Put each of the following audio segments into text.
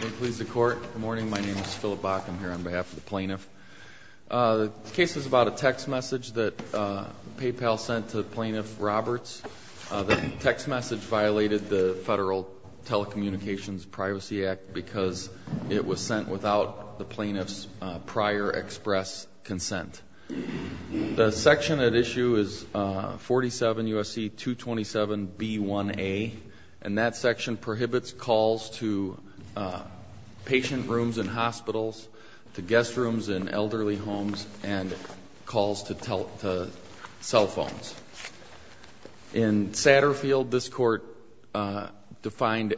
Good morning. My name is Philip Bach. I'm here on behalf of the plaintiff. The case is about a text message that PayPal sent to Plaintiff Roberts. The text message violated the Federal Telecommunications Privacy Act because it was sent without the plaintiff's prior express consent. The section at issue is 47 U.S.C. 227b1a, and that section prohibits calls to patient rooms in hospitals, to guest rooms in elderly homes, and calls to cell phones. In Satterfield, this Court defined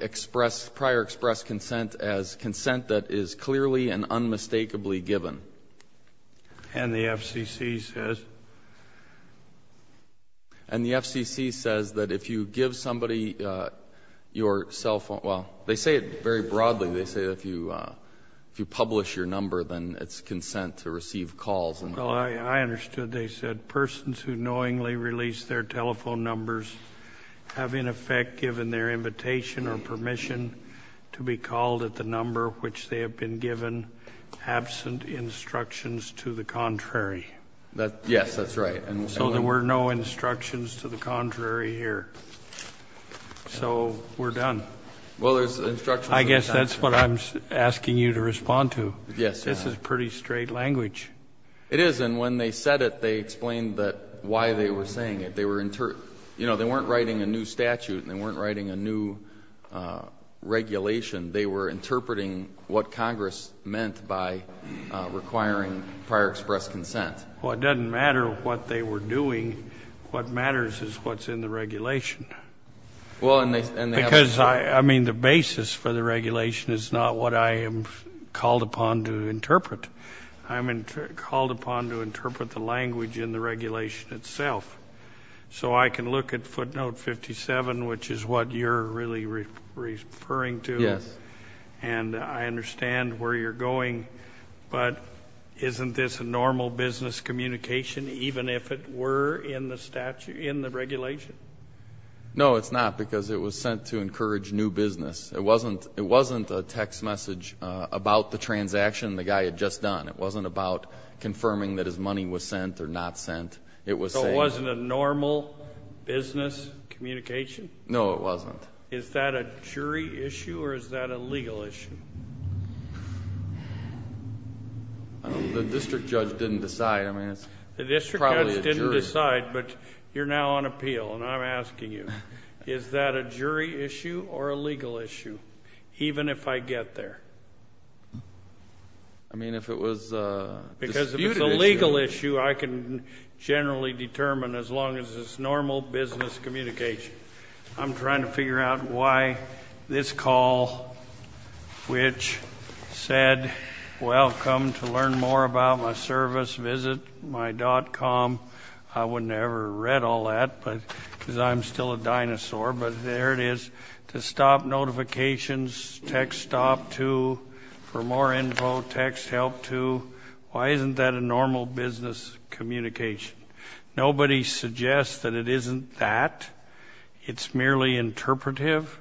prior express consent as consent that is clearly and unmistakably given. And the FCC says? And the FCC says that if you give somebody your cell phone? Well, they say it very broadly. They say that if you publish your number, then it's consent to receive calls. Well, I understood. They said persons who knowingly release their telephone numbers have in effect given their invitation or permission to be called at the number which they have been given absent instructions to the contrary. Yes, that's right. So there were no instructions to the contrary here. So we're done. Well, there's instructions. I guess that's what I'm asking you to respond to. Yes. This is pretty straight language. It is, and when they said it, they explained why they were saying it. They weren't writing a new statute, and they weren't writing a new regulation. They were interpreting what Congress meant by requiring prior express consent. Well, it doesn't matter what they were doing. What matters is what's in the regulation. Because, I mean, the basis for the regulation is not what I am called upon to interpret. I'm called upon to interpret the language in the regulation itself. So I can look at footnote 57, which is what you're really referring to. Yes. And I understand where you're going, but isn't this a normal business communication, even if it were in the regulation? No, it's not, because it was sent to encourage new business. It wasn't a text message about the transaction the guy had just done. It wasn't about confirming that his money was sent or not sent. So it wasn't a normal business communication? No, it wasn't. Is that a jury issue or is that a legal issue? The district judge didn't decide. I mean, it's probably a jury. The district judge didn't decide, but you're now on appeal, and I'm asking you. Is that a jury issue or a legal issue, even if I get there? I mean, if it was a disputed issue... Because if it's a legal issue, I can generally determine as long as it's normal business communication. I'm trying to figure out why this call, which said, Welcome to learn more about my service, visit my .com. I wouldn't have ever read all that, because I'm still a dinosaur. But there it is. To stop notifications, text stop to for more info, text help to. Why isn't that a normal business communication? Nobody suggests that it isn't that. It's merely interpretive.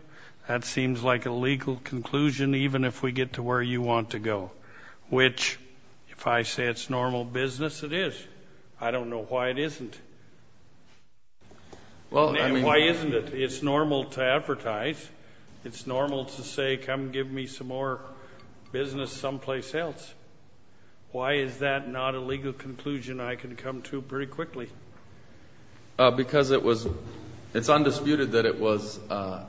That seems like a legal conclusion, even if we get to where you want to go, which, if I say it's normal business, it is. I don't know why it isn't. Why isn't it? It's normal to advertise. It's normal to say, Come give me some more business someplace else. Why is that not a legal conclusion I can come to pretty quickly? Because it's undisputed that it was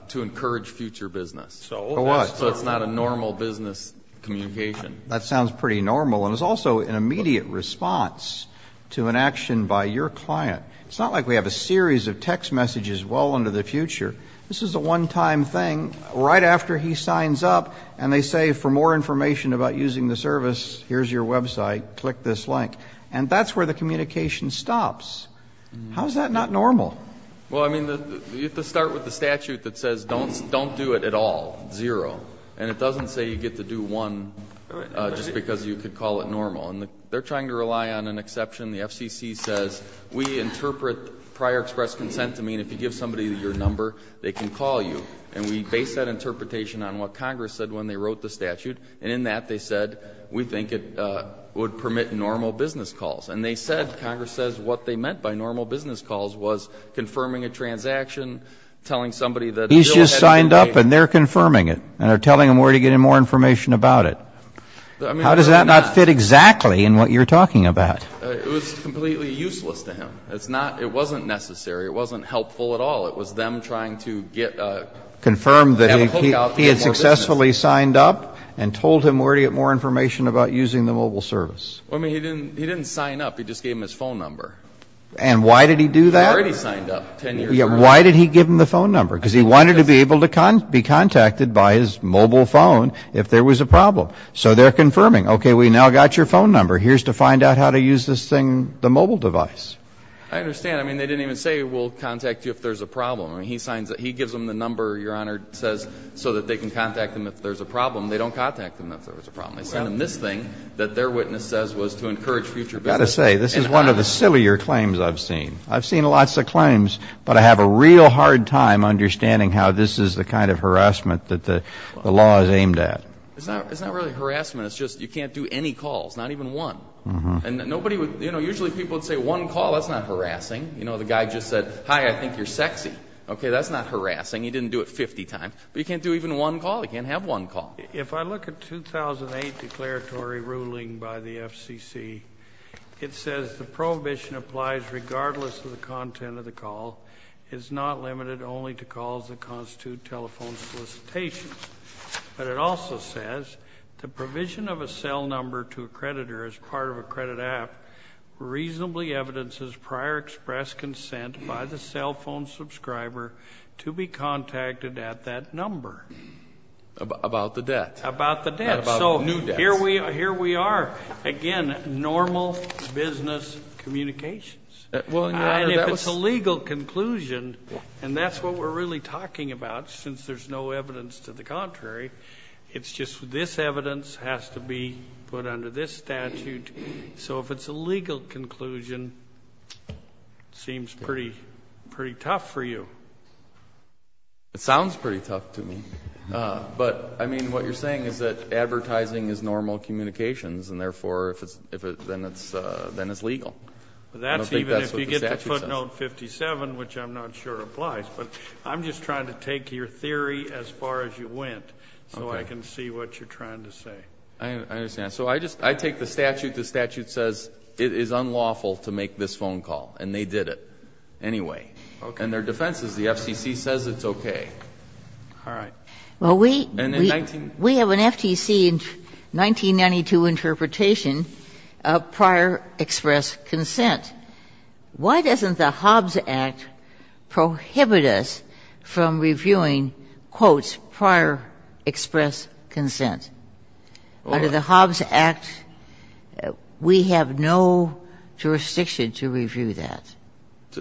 to encourage future business. So what? So it's not a normal business communication. That sounds pretty normal. And it's also an immediate response to an action by your client. It's not like we have a series of text messages well into the future. This is a one-time thing. Right after he signs up and they say for more information about using the service, here's your website, click this link. And that's where the communication stops. How is that not normal? Well, I mean, you have to start with the statute that says don't do it at all, zero. And it doesn't say you get to do one just because you could call it normal. And they're trying to rely on an exception. The FCC says we interpret prior express consent to mean if you give somebody your number, they can call you. And we base that interpretation on what Congress said when they wrote the statute. And in that they said we think it would permit normal business calls. And they said, Congress says what they meant by normal business calls was confirming a transaction, telling somebody that a bill had been made. He's just signed up and they're confirming it and are telling him where to get any more information about it. How does that not fit exactly in what you're talking about? It was completely useless to him. It's not ‑‑ it wasn't necessary. It wasn't helpful at all. It was them trying to get a ‑‑ Confirm that he had successfully signed up and told him where to get more information about using the mobile service. Well, I mean, he didn't sign up. He just gave him his phone number. And why did he do that? He already signed up 10 years ago. Why did he give him the phone number? Because he wanted to be able to be contacted by his mobile phone if there was a problem. So they're confirming, okay, we now got your phone number. Here's to find out how to use this thing, the mobile device. I understand. I mean, they didn't even say we'll contact you if there's a problem. I mean, he signs ‑‑ he gives them the number, Your Honor, says, so that they can contact them if there's a problem. They don't contact them if there's a problem. They send them this thing that their witness says was to encourage future business. I've got to say, this is one of the sillier claims I've seen. I've seen lots of claims, but I have a real hard time understanding how this is the kind of harassment that the law is aimed at. It's not really harassment. It's just you can't do any calls. Not even one. And nobody would ‑‑ you know, usually people would say one call. That's not harassing. You know, the guy just said, hi, I think you're sexy. Okay, that's not harassing. He didn't do it 50 times. But you can't do even one call. You can't have one call. If I look at 2008 declaratory ruling by the FCC, it says the prohibition applies regardless of the content of the call. It's not limited only to calls that constitute telephone solicitations. But it also says the provision of a cell number to a creditor as part of a credit app reasonably evidences prior express consent by the cell phone subscriber to be contacted at that number. About the debt. About the debt. So here we are. Again, normal business communications. And if it's a legal conclusion, and that's what we're really talking about since there's no evidence to the contrary, it's just this evidence has to be put under this statute. So if it's a legal conclusion, it seems pretty tough for you. It sounds pretty tough to me. But, I mean, what you're saying is that advertising is normal communications and, therefore, then it's legal. I don't think that's what the statute says. That's even if you get to footnote 57, which I'm not sure applies. But I'm just trying to take your theory as far as you went so I can see what you're trying to say. I understand. So I take the statute. The statute says it is unlawful to make this phone call. And they did it anyway. Okay. And their defense is the FCC says it's okay. All right. Well, we have an FTC in 1992 interpretation of prior express consent. Why doesn't the Hobbs Act prohibit us from reviewing, quote, prior express consent? Under the Hobbs Act, we have no jurisdiction to review that.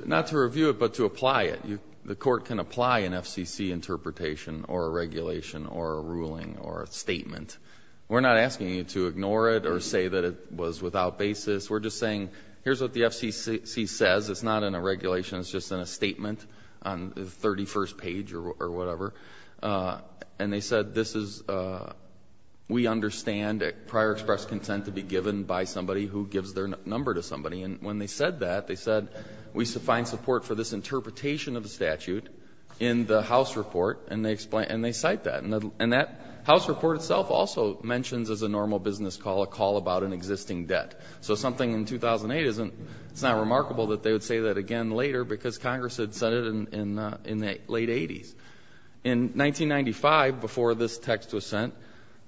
Not to review it, but to apply it. The Court can apply an FCC interpretation or a regulation or a ruling or a statement. We're not asking you to ignore it or say that it was without basis. We're just saying here's what the FCC says. It's not in a regulation. It's just in a statement on the 31st page or whatever. And they said this is we understand prior express consent to be given by somebody who gives their number to somebody. And when they said that, they said we find support for this interpretation of the statute in the House report. And they cite that. And that House report itself also mentions as a normal business call a call about an existing debt. So something in 2008 isn't, it's not remarkable that they would say that again later because Congress had said it in the late 80s. In 1995, before this text was sent,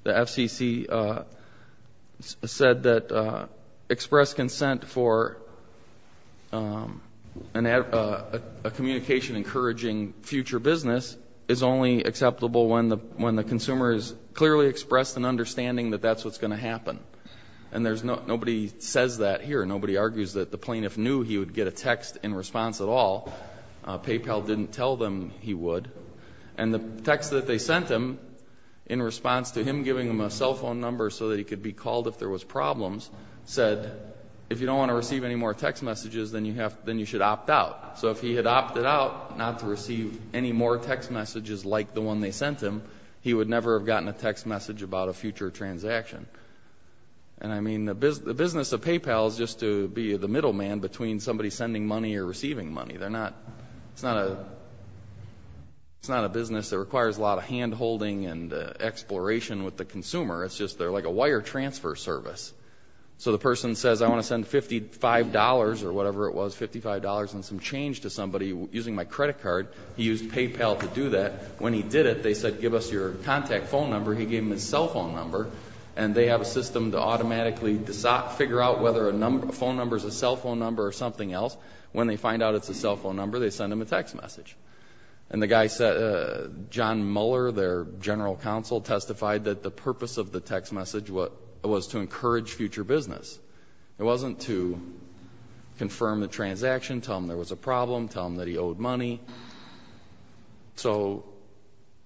the FCC said that express consent for a communication encouraging future business is only acceptable when the consumer has clearly expressed an understanding that that's what's going to happen. And nobody says that here. Nobody argues that the plaintiff knew he would get a text in response at all. PayPal didn't tell them he would. And the text that they sent him in response to him giving them a cell phone number so that he could be called if there was problems said if you don't want to receive any more text messages, then you should opt out. So if he had opted out not to receive any more text messages like the one they sent him, he would never have gotten a text message about a future transaction. And I mean, the business of PayPal is just to be the middleman between somebody sending money or receiving money. They're not, it's not a business that requires a lot of hand-holding and exploration with the consumer. It's just they're like a wire transfer service. So the person says I want to send $55 or whatever it was, $55 and some change to somebody using my credit card. He used PayPal to do that. When he did it, they said give us your contact phone number. He gave them his cell phone number. And they have a system to automatically figure out whether a phone number is a cell phone number or something else. When they find out it's a cell phone number, they send him a text message. And the guy said, John Muller, their general counsel, testified that the purpose of the text message was to encourage future business. It wasn't to confirm the transaction, tell him there was a problem, tell him that he owed money. So,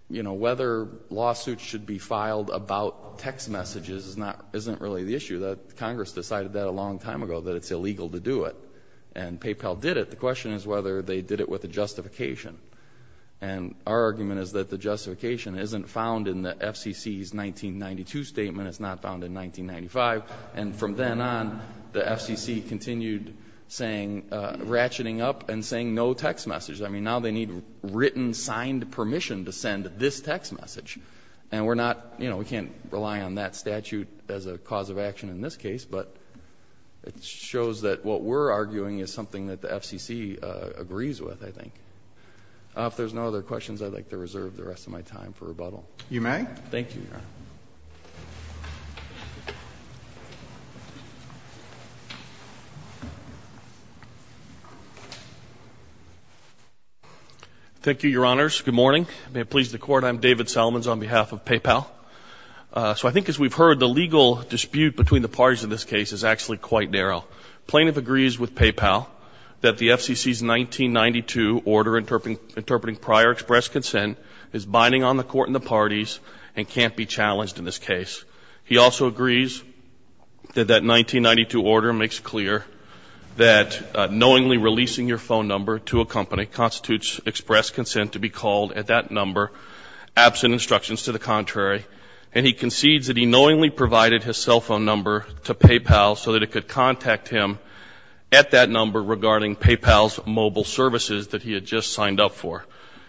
you know, whether lawsuits should be filed about text messages isn't really the issue. Congress decided that a long time ago that it's illegal to do it. And PayPal did it. The question is whether they did it with a justification. And our argument is that the justification isn't found in the FCC's 1992 statement. It's not found in 1995. And from then on, the FCC continued saying, ratcheting up and saying no text message. I mean, now they need written, signed permission to send this text message. And we're not, you know, we can't rely on that statute as a cause of action in this case. But it shows that what we're arguing is something that the FCC agrees with, I think. If there's no other questions, I'd like to reserve the rest of my time for rebuttal. You may. Thank you, Your Honor. Thank you, Your Honors. Good morning. May it please the Court. I'm David Salmons on behalf of PayPal. So I think as we've heard, the legal dispute between the parties in this case is actually quite narrow. Plaintiff agrees with PayPal that the FCC's 1992 order interpreting prior express consent is binding on the court and the parties and can't be challenged in this case. He also agrees that that 1992 order makes clear that knowingly releasing your phone number to a company constitutes express consent to be called at that number absent instructions to the contrary. And he concedes that he knowingly provided his cell phone number to PayPal so that it could contact him at that number regarding PayPal's mobile services that he had just signed up for.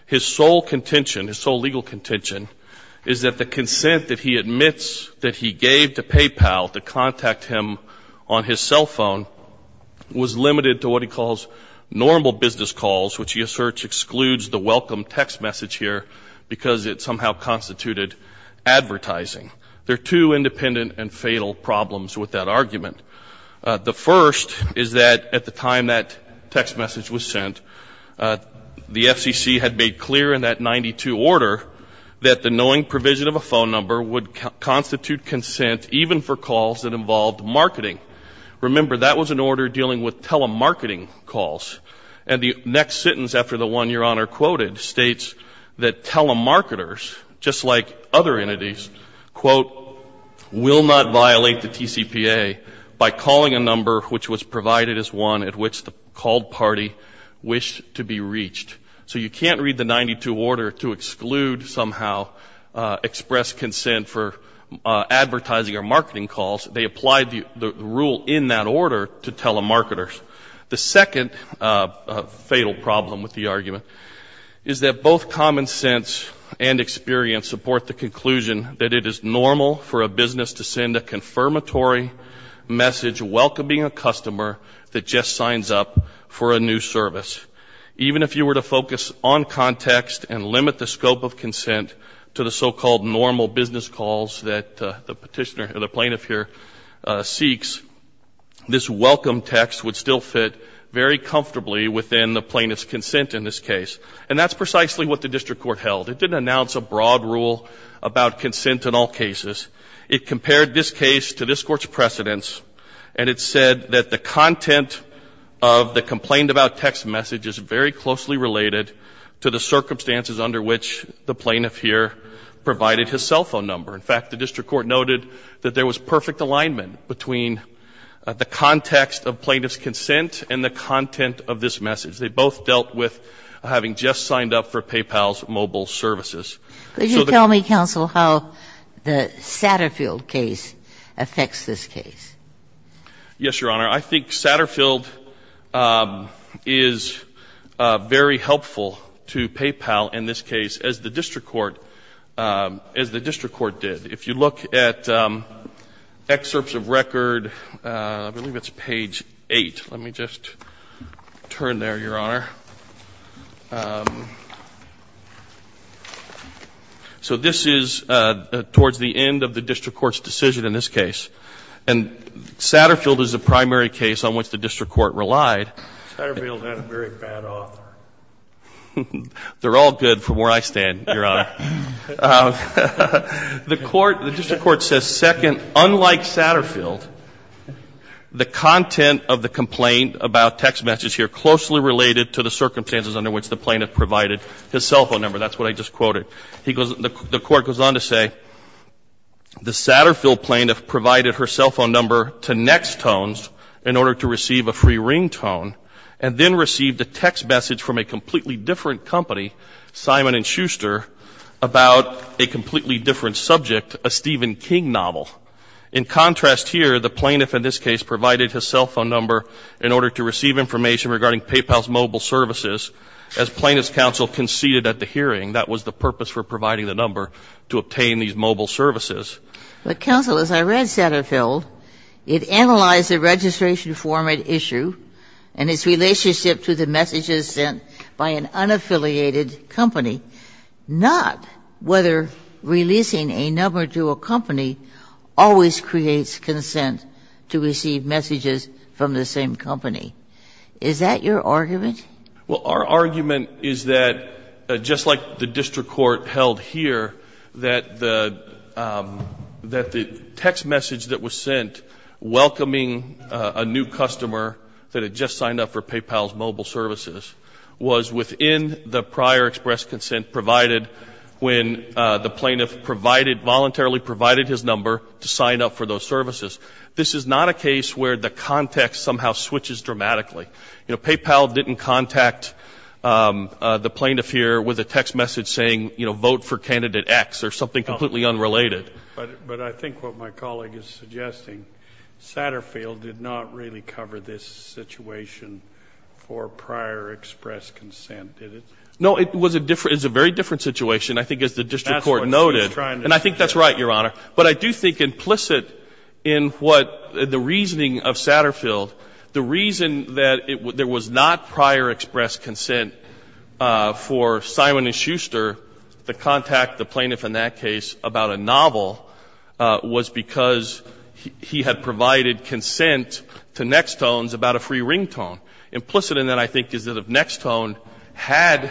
His sole contention, his sole legal contention, is that the consent that he admits that he gave to PayPal to contact him on his cell phone was limited to what he calls normal business calls, which he asserts excludes the welcome text message here because it somehow constituted advertising. There are two independent and fatal problems with that argument. The first is that at the time that text message was sent, the FCC had made clear in that 92 order that the knowing provision of a phone number would constitute consent even for calls that involved marketing. Remember, that was an order dealing with telemarketing calls. And the next sentence after the one Your Honor quoted states that telemarketers, just like other entities, quote, will not violate the TCPA by calling a number which was provided as one at which the called party wished to be reached. So you can't read the 92 order to exclude somehow express consent for advertising or marketing calls. They applied the rule in that order to telemarketers. The second fatal problem with the argument is that both common sense and experience support the conclusion that it is normal for a business to send a confirmatory message welcoming a customer that just signs up for a new service. Even if you were to focus on context and limit the scope of consent to the so-called normal business calls that the Petitioner or the Plaintiff here seeks, this welcome text would still fit very comfortably within the Plaintiff's consent in this case. And that's precisely what the district court held. It didn't announce a broad rule about consent in all cases. It compared this case to this Court's precedents, and it said that the content of the complained-about text message is very closely related to the circumstances under which the Plaintiff here provided his cell phone number. In fact, the district court noted that there was perfect alignment between the context of Plaintiff's consent and the content of this message. They both dealt with having just signed up for PayPal's mobile services. Could you tell me, counsel, how the Satterfield case affects this case? Yes, Your Honor. I think Satterfield is very helpful to PayPal in this case, as the district court did. If you look at excerpts of record, I believe it's page 8. Let me just turn there, Your Honor. So this is towards the end of the district court's decision in this case. And Satterfield is the primary case on which the district court relied. Satterfield is not a very bad author. They're all good from where I stand, Your Honor. The court, the district court says, second, unlike Satterfield, the content of the complained-about text message here closely related to the circumstances under which the Plaintiff provided his cell phone number. That's what I just quoted. The court goes on to say, the Satterfield Plaintiff provided her cell phone number to Nextones in order to receive a free ringtone and then received a text message from a completely different company, Simon & Schuster, about a completely different subject, a Stephen King novel. In contrast here, the Plaintiff in this case provided his cell phone number in order to receive information regarding PayPal's mobile services as Plaintiff's counsel conceded at the hearing. That was the purpose for providing the number to obtain these mobile services. But, counsel, as I read Satterfield, it analyzed the registration format issue and its relationship to the messages sent by an unaffiliated company, not whether releasing a number to a company always creates consent to receive messages from the same company. Is that your argument? Well, our argument is that, just like the district court held here, that the text message that was sent welcoming a new customer that had just signed up for PayPal's mobile services was within the prior express consent provided when the Plaintiff voluntarily provided his number to sign up for those services. This is not a case where the context somehow switches dramatically. You know, PayPal didn't contact the Plaintiff here with a text message saying, you know, vote for candidate X or something completely unrelated. But I think what my colleague is suggesting, Satterfield did not really cover this situation for prior express consent, did it? No, it was a very different situation, I think, as the district court noted. And I think that's right, Your Honor. But I do think implicit in what the reasoning of Satterfield, the reason that there was not prior express consent for Simon & Schuster to contact the Plaintiff in that case about a novel was because he had provided consent to Nextones about a free ringtone. Implicit in that, I think, is that if Nextone had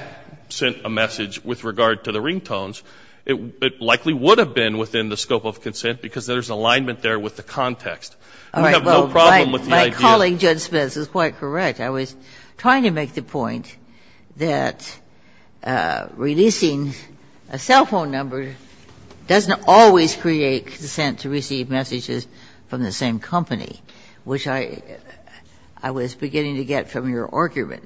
sent a message with regard to the ringtones, it likely would have been within the scope of consent, because there's alignment there with the context. We have no problem with the idea. Ginsburg. All right. Well, my colleague, Judge Smith, is quite correct. I was trying to make the point that releasing a cell phone number doesn't always create consent to receive messages from the same company, which I was beginning to get from your argument.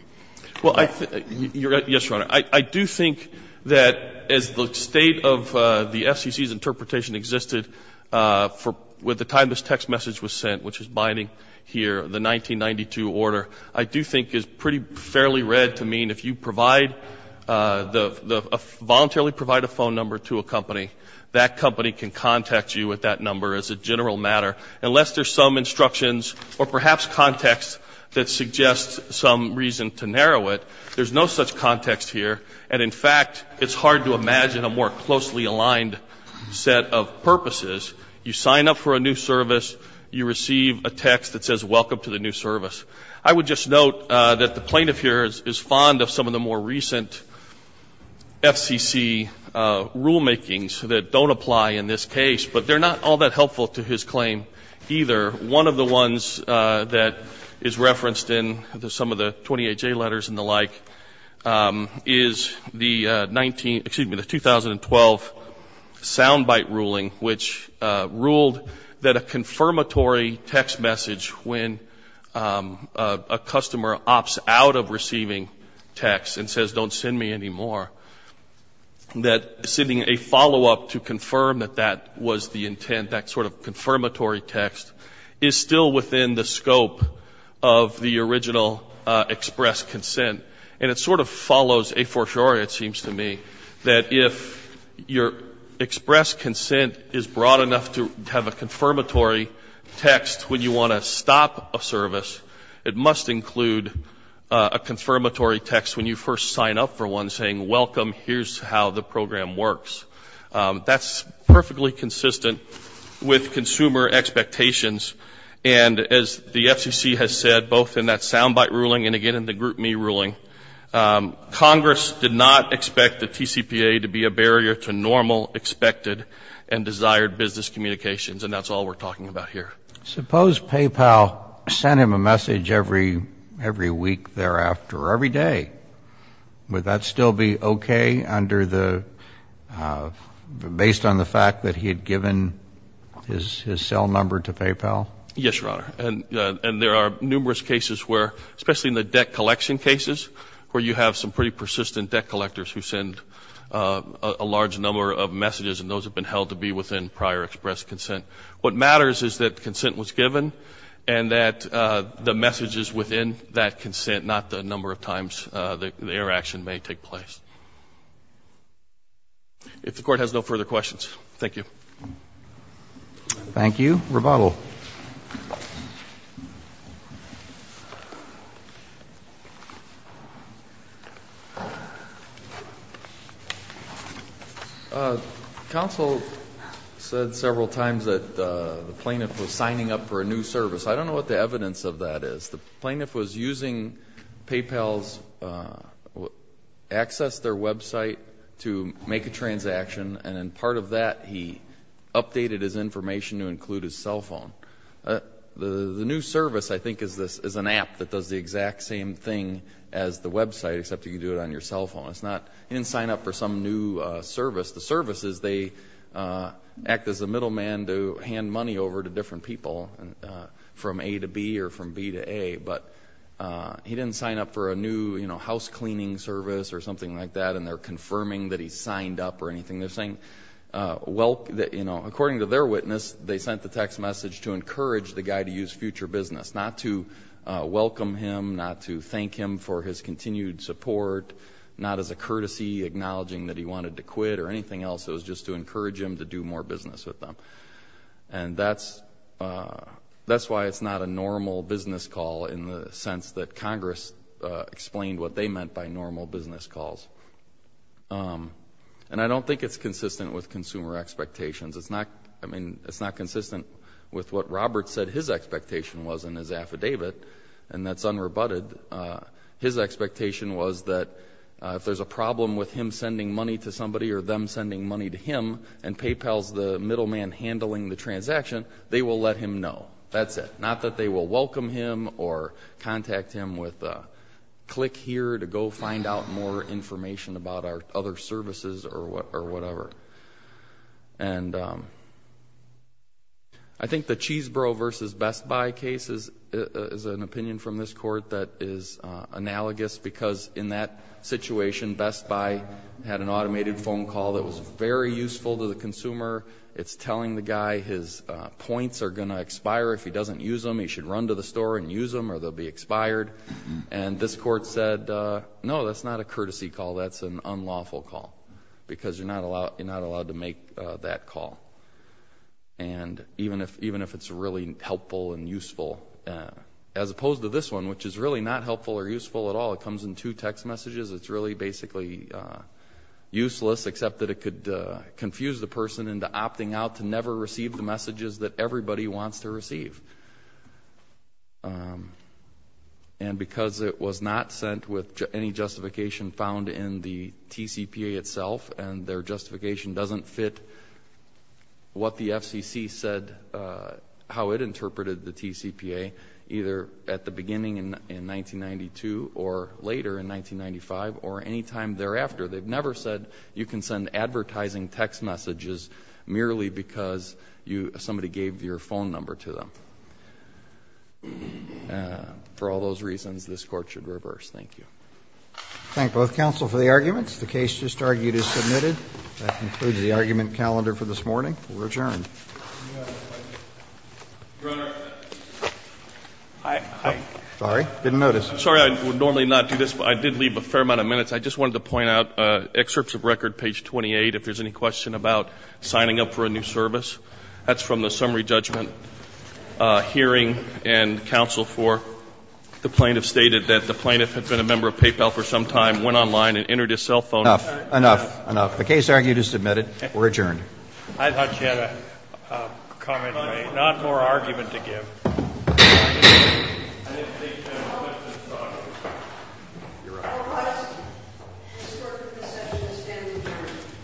Well, I think you're right. Yes, Your Honor. I do think that as the state of the FCC's interpretation existed with the time this text message was sent, which is binding here, the 1992 order, I do think is pretty fairly read to mean if you provide the voluntarily provide a phone number to a company, that company can contact you with that number as a general matter, unless there's some instructions or perhaps context that suggests some reason to narrow it. There's no such context here, and, in fact, it's hard to imagine a more closely aligned set of purposes. You sign up for a new service. You receive a text that says, welcome to the new service. I would just note that the plaintiff here is fond of some of the more recent FCC rulemakings that don't apply in this case, but they're not all that helpful to his claim either. One of the ones that is referenced in some of the 28J letters and the like is the 2012 sound bite ruling, which ruled that a confirmatory text message when a customer opts out of receiving text and says don't send me anymore, that sending a follow-up to confirm that that was the intent, that sort of confirmatory text, is still within the scope of the original express consent. And it sort of follows a fortiori, it seems to me, that if your express consent is broad enough to have a confirmatory text when you want to stop a service, it must include a confirmatory text when you first sign up for one saying, welcome, here's how the program works. That's perfectly consistent with consumer expectations. And as the FCC has said, both in that sound bite ruling and, again, in the group me ruling, Congress did not expect the TCPA to be a barrier to normal expected and desired business communications, and that's all we're talking about here. Suppose PayPal sent him a message every week thereafter or every day. Would that still be okay under the, based on the fact that he had given his cell number to PayPal? Yes, Your Honor. And there are numerous cases where, especially in the debt collection cases, where you have some pretty persistent debt collectors who send a large number of messages, and those have been held to be within prior express consent. What matters is that consent was given and that the messages within that consent, not the number of times their action may take place. If the Court has no further questions, thank you. Thank you. Rebuttal. Counsel. Counsel said several times that the plaintiff was signing up for a new service. I don't know what the evidence of that is. The plaintiff was using PayPal's access to their website to make a transaction, and in part of that he updated his information to include his cell phone. The new service, I think, is an app that does the exact same thing as the website, except you can do it on your cell phone. It's not, he didn't sign up for some new service. The services, they act as a middleman to hand money over to different people from A to B or from B to A, but he didn't sign up for a new, you know, house cleaning service or something like that, and they're confirming that he signed up or anything. They're saying, you know, according to their witness, they sent the text message to encourage the guy to use future business, not to welcome him, not to thank him for his continued support, not as a courtesy acknowledging that he wanted to quit or anything else. It was just to encourage him to do more business with them, and that's why it's not a normal business call in the sense that Congress explained what they meant by normal business calls. And I don't think it's consistent with consumer expectations. It's not, I mean, it's not consistent with what Robert said his expectation was in his affidavit, and that's unrebutted. His expectation was that if there's a problem with him sending money to somebody or them sending money to him and PayPal's the middleman handling the transaction, they will let him know. That's it. Not that they will welcome him or contact him with a click here to go find out more information about our other services or whatever. And I think the Cheeseboro versus Best Buy case is an opinion from this court that is analogous because in that situation Best Buy had an automated phone call that was very useful to the consumer. It's telling the guy his points are going to expire if he doesn't use them. He should run to the store and use them or they'll be expired. And this court said, no, that's not a courtesy call. That's an unlawful call because you're not allowed to make that call. And even if it's really helpful and useful, as opposed to this one, which is really not helpful or useful at all. It comes in two text messages. It's really basically useless except that it could confuse the person into opting out to never receive the messages that everybody wants to receive. And because it was not sent with any justification found in the TCPA itself and their justification doesn't fit what the FCC said, how it interpreted the TCPA, either at the beginning in 1992 or later in 1995 or any time thereafter. They've never said you can send advertising text messages merely because somebody gave your phone number to them. For all those reasons, this court should reverse. Thank you. Roberts. Thank both counsel for the arguments. The case just argued is submitted. That concludes the argument calendar for this morning. We'll return. Your Honor, I'm sorry. I didn't notice. I'm sorry. I would normally not do this, but I did leave a fair amount of minutes. I just wanted to point out excerpts of record, page 28, if there's any question about signing up for a new service. That's from the summary judgment hearing. And counsel for the plaintiff stated that the plaintiff had been a member of PayPal for some time, went online and entered his cell phone number. Enough. Enough. The case argued is submitted. We're adjourned. I thought you had a comment to make. Not more argument to give. I didn't think there was much to talk about. Your Honor. All rise. This court in this session is standing adjourned.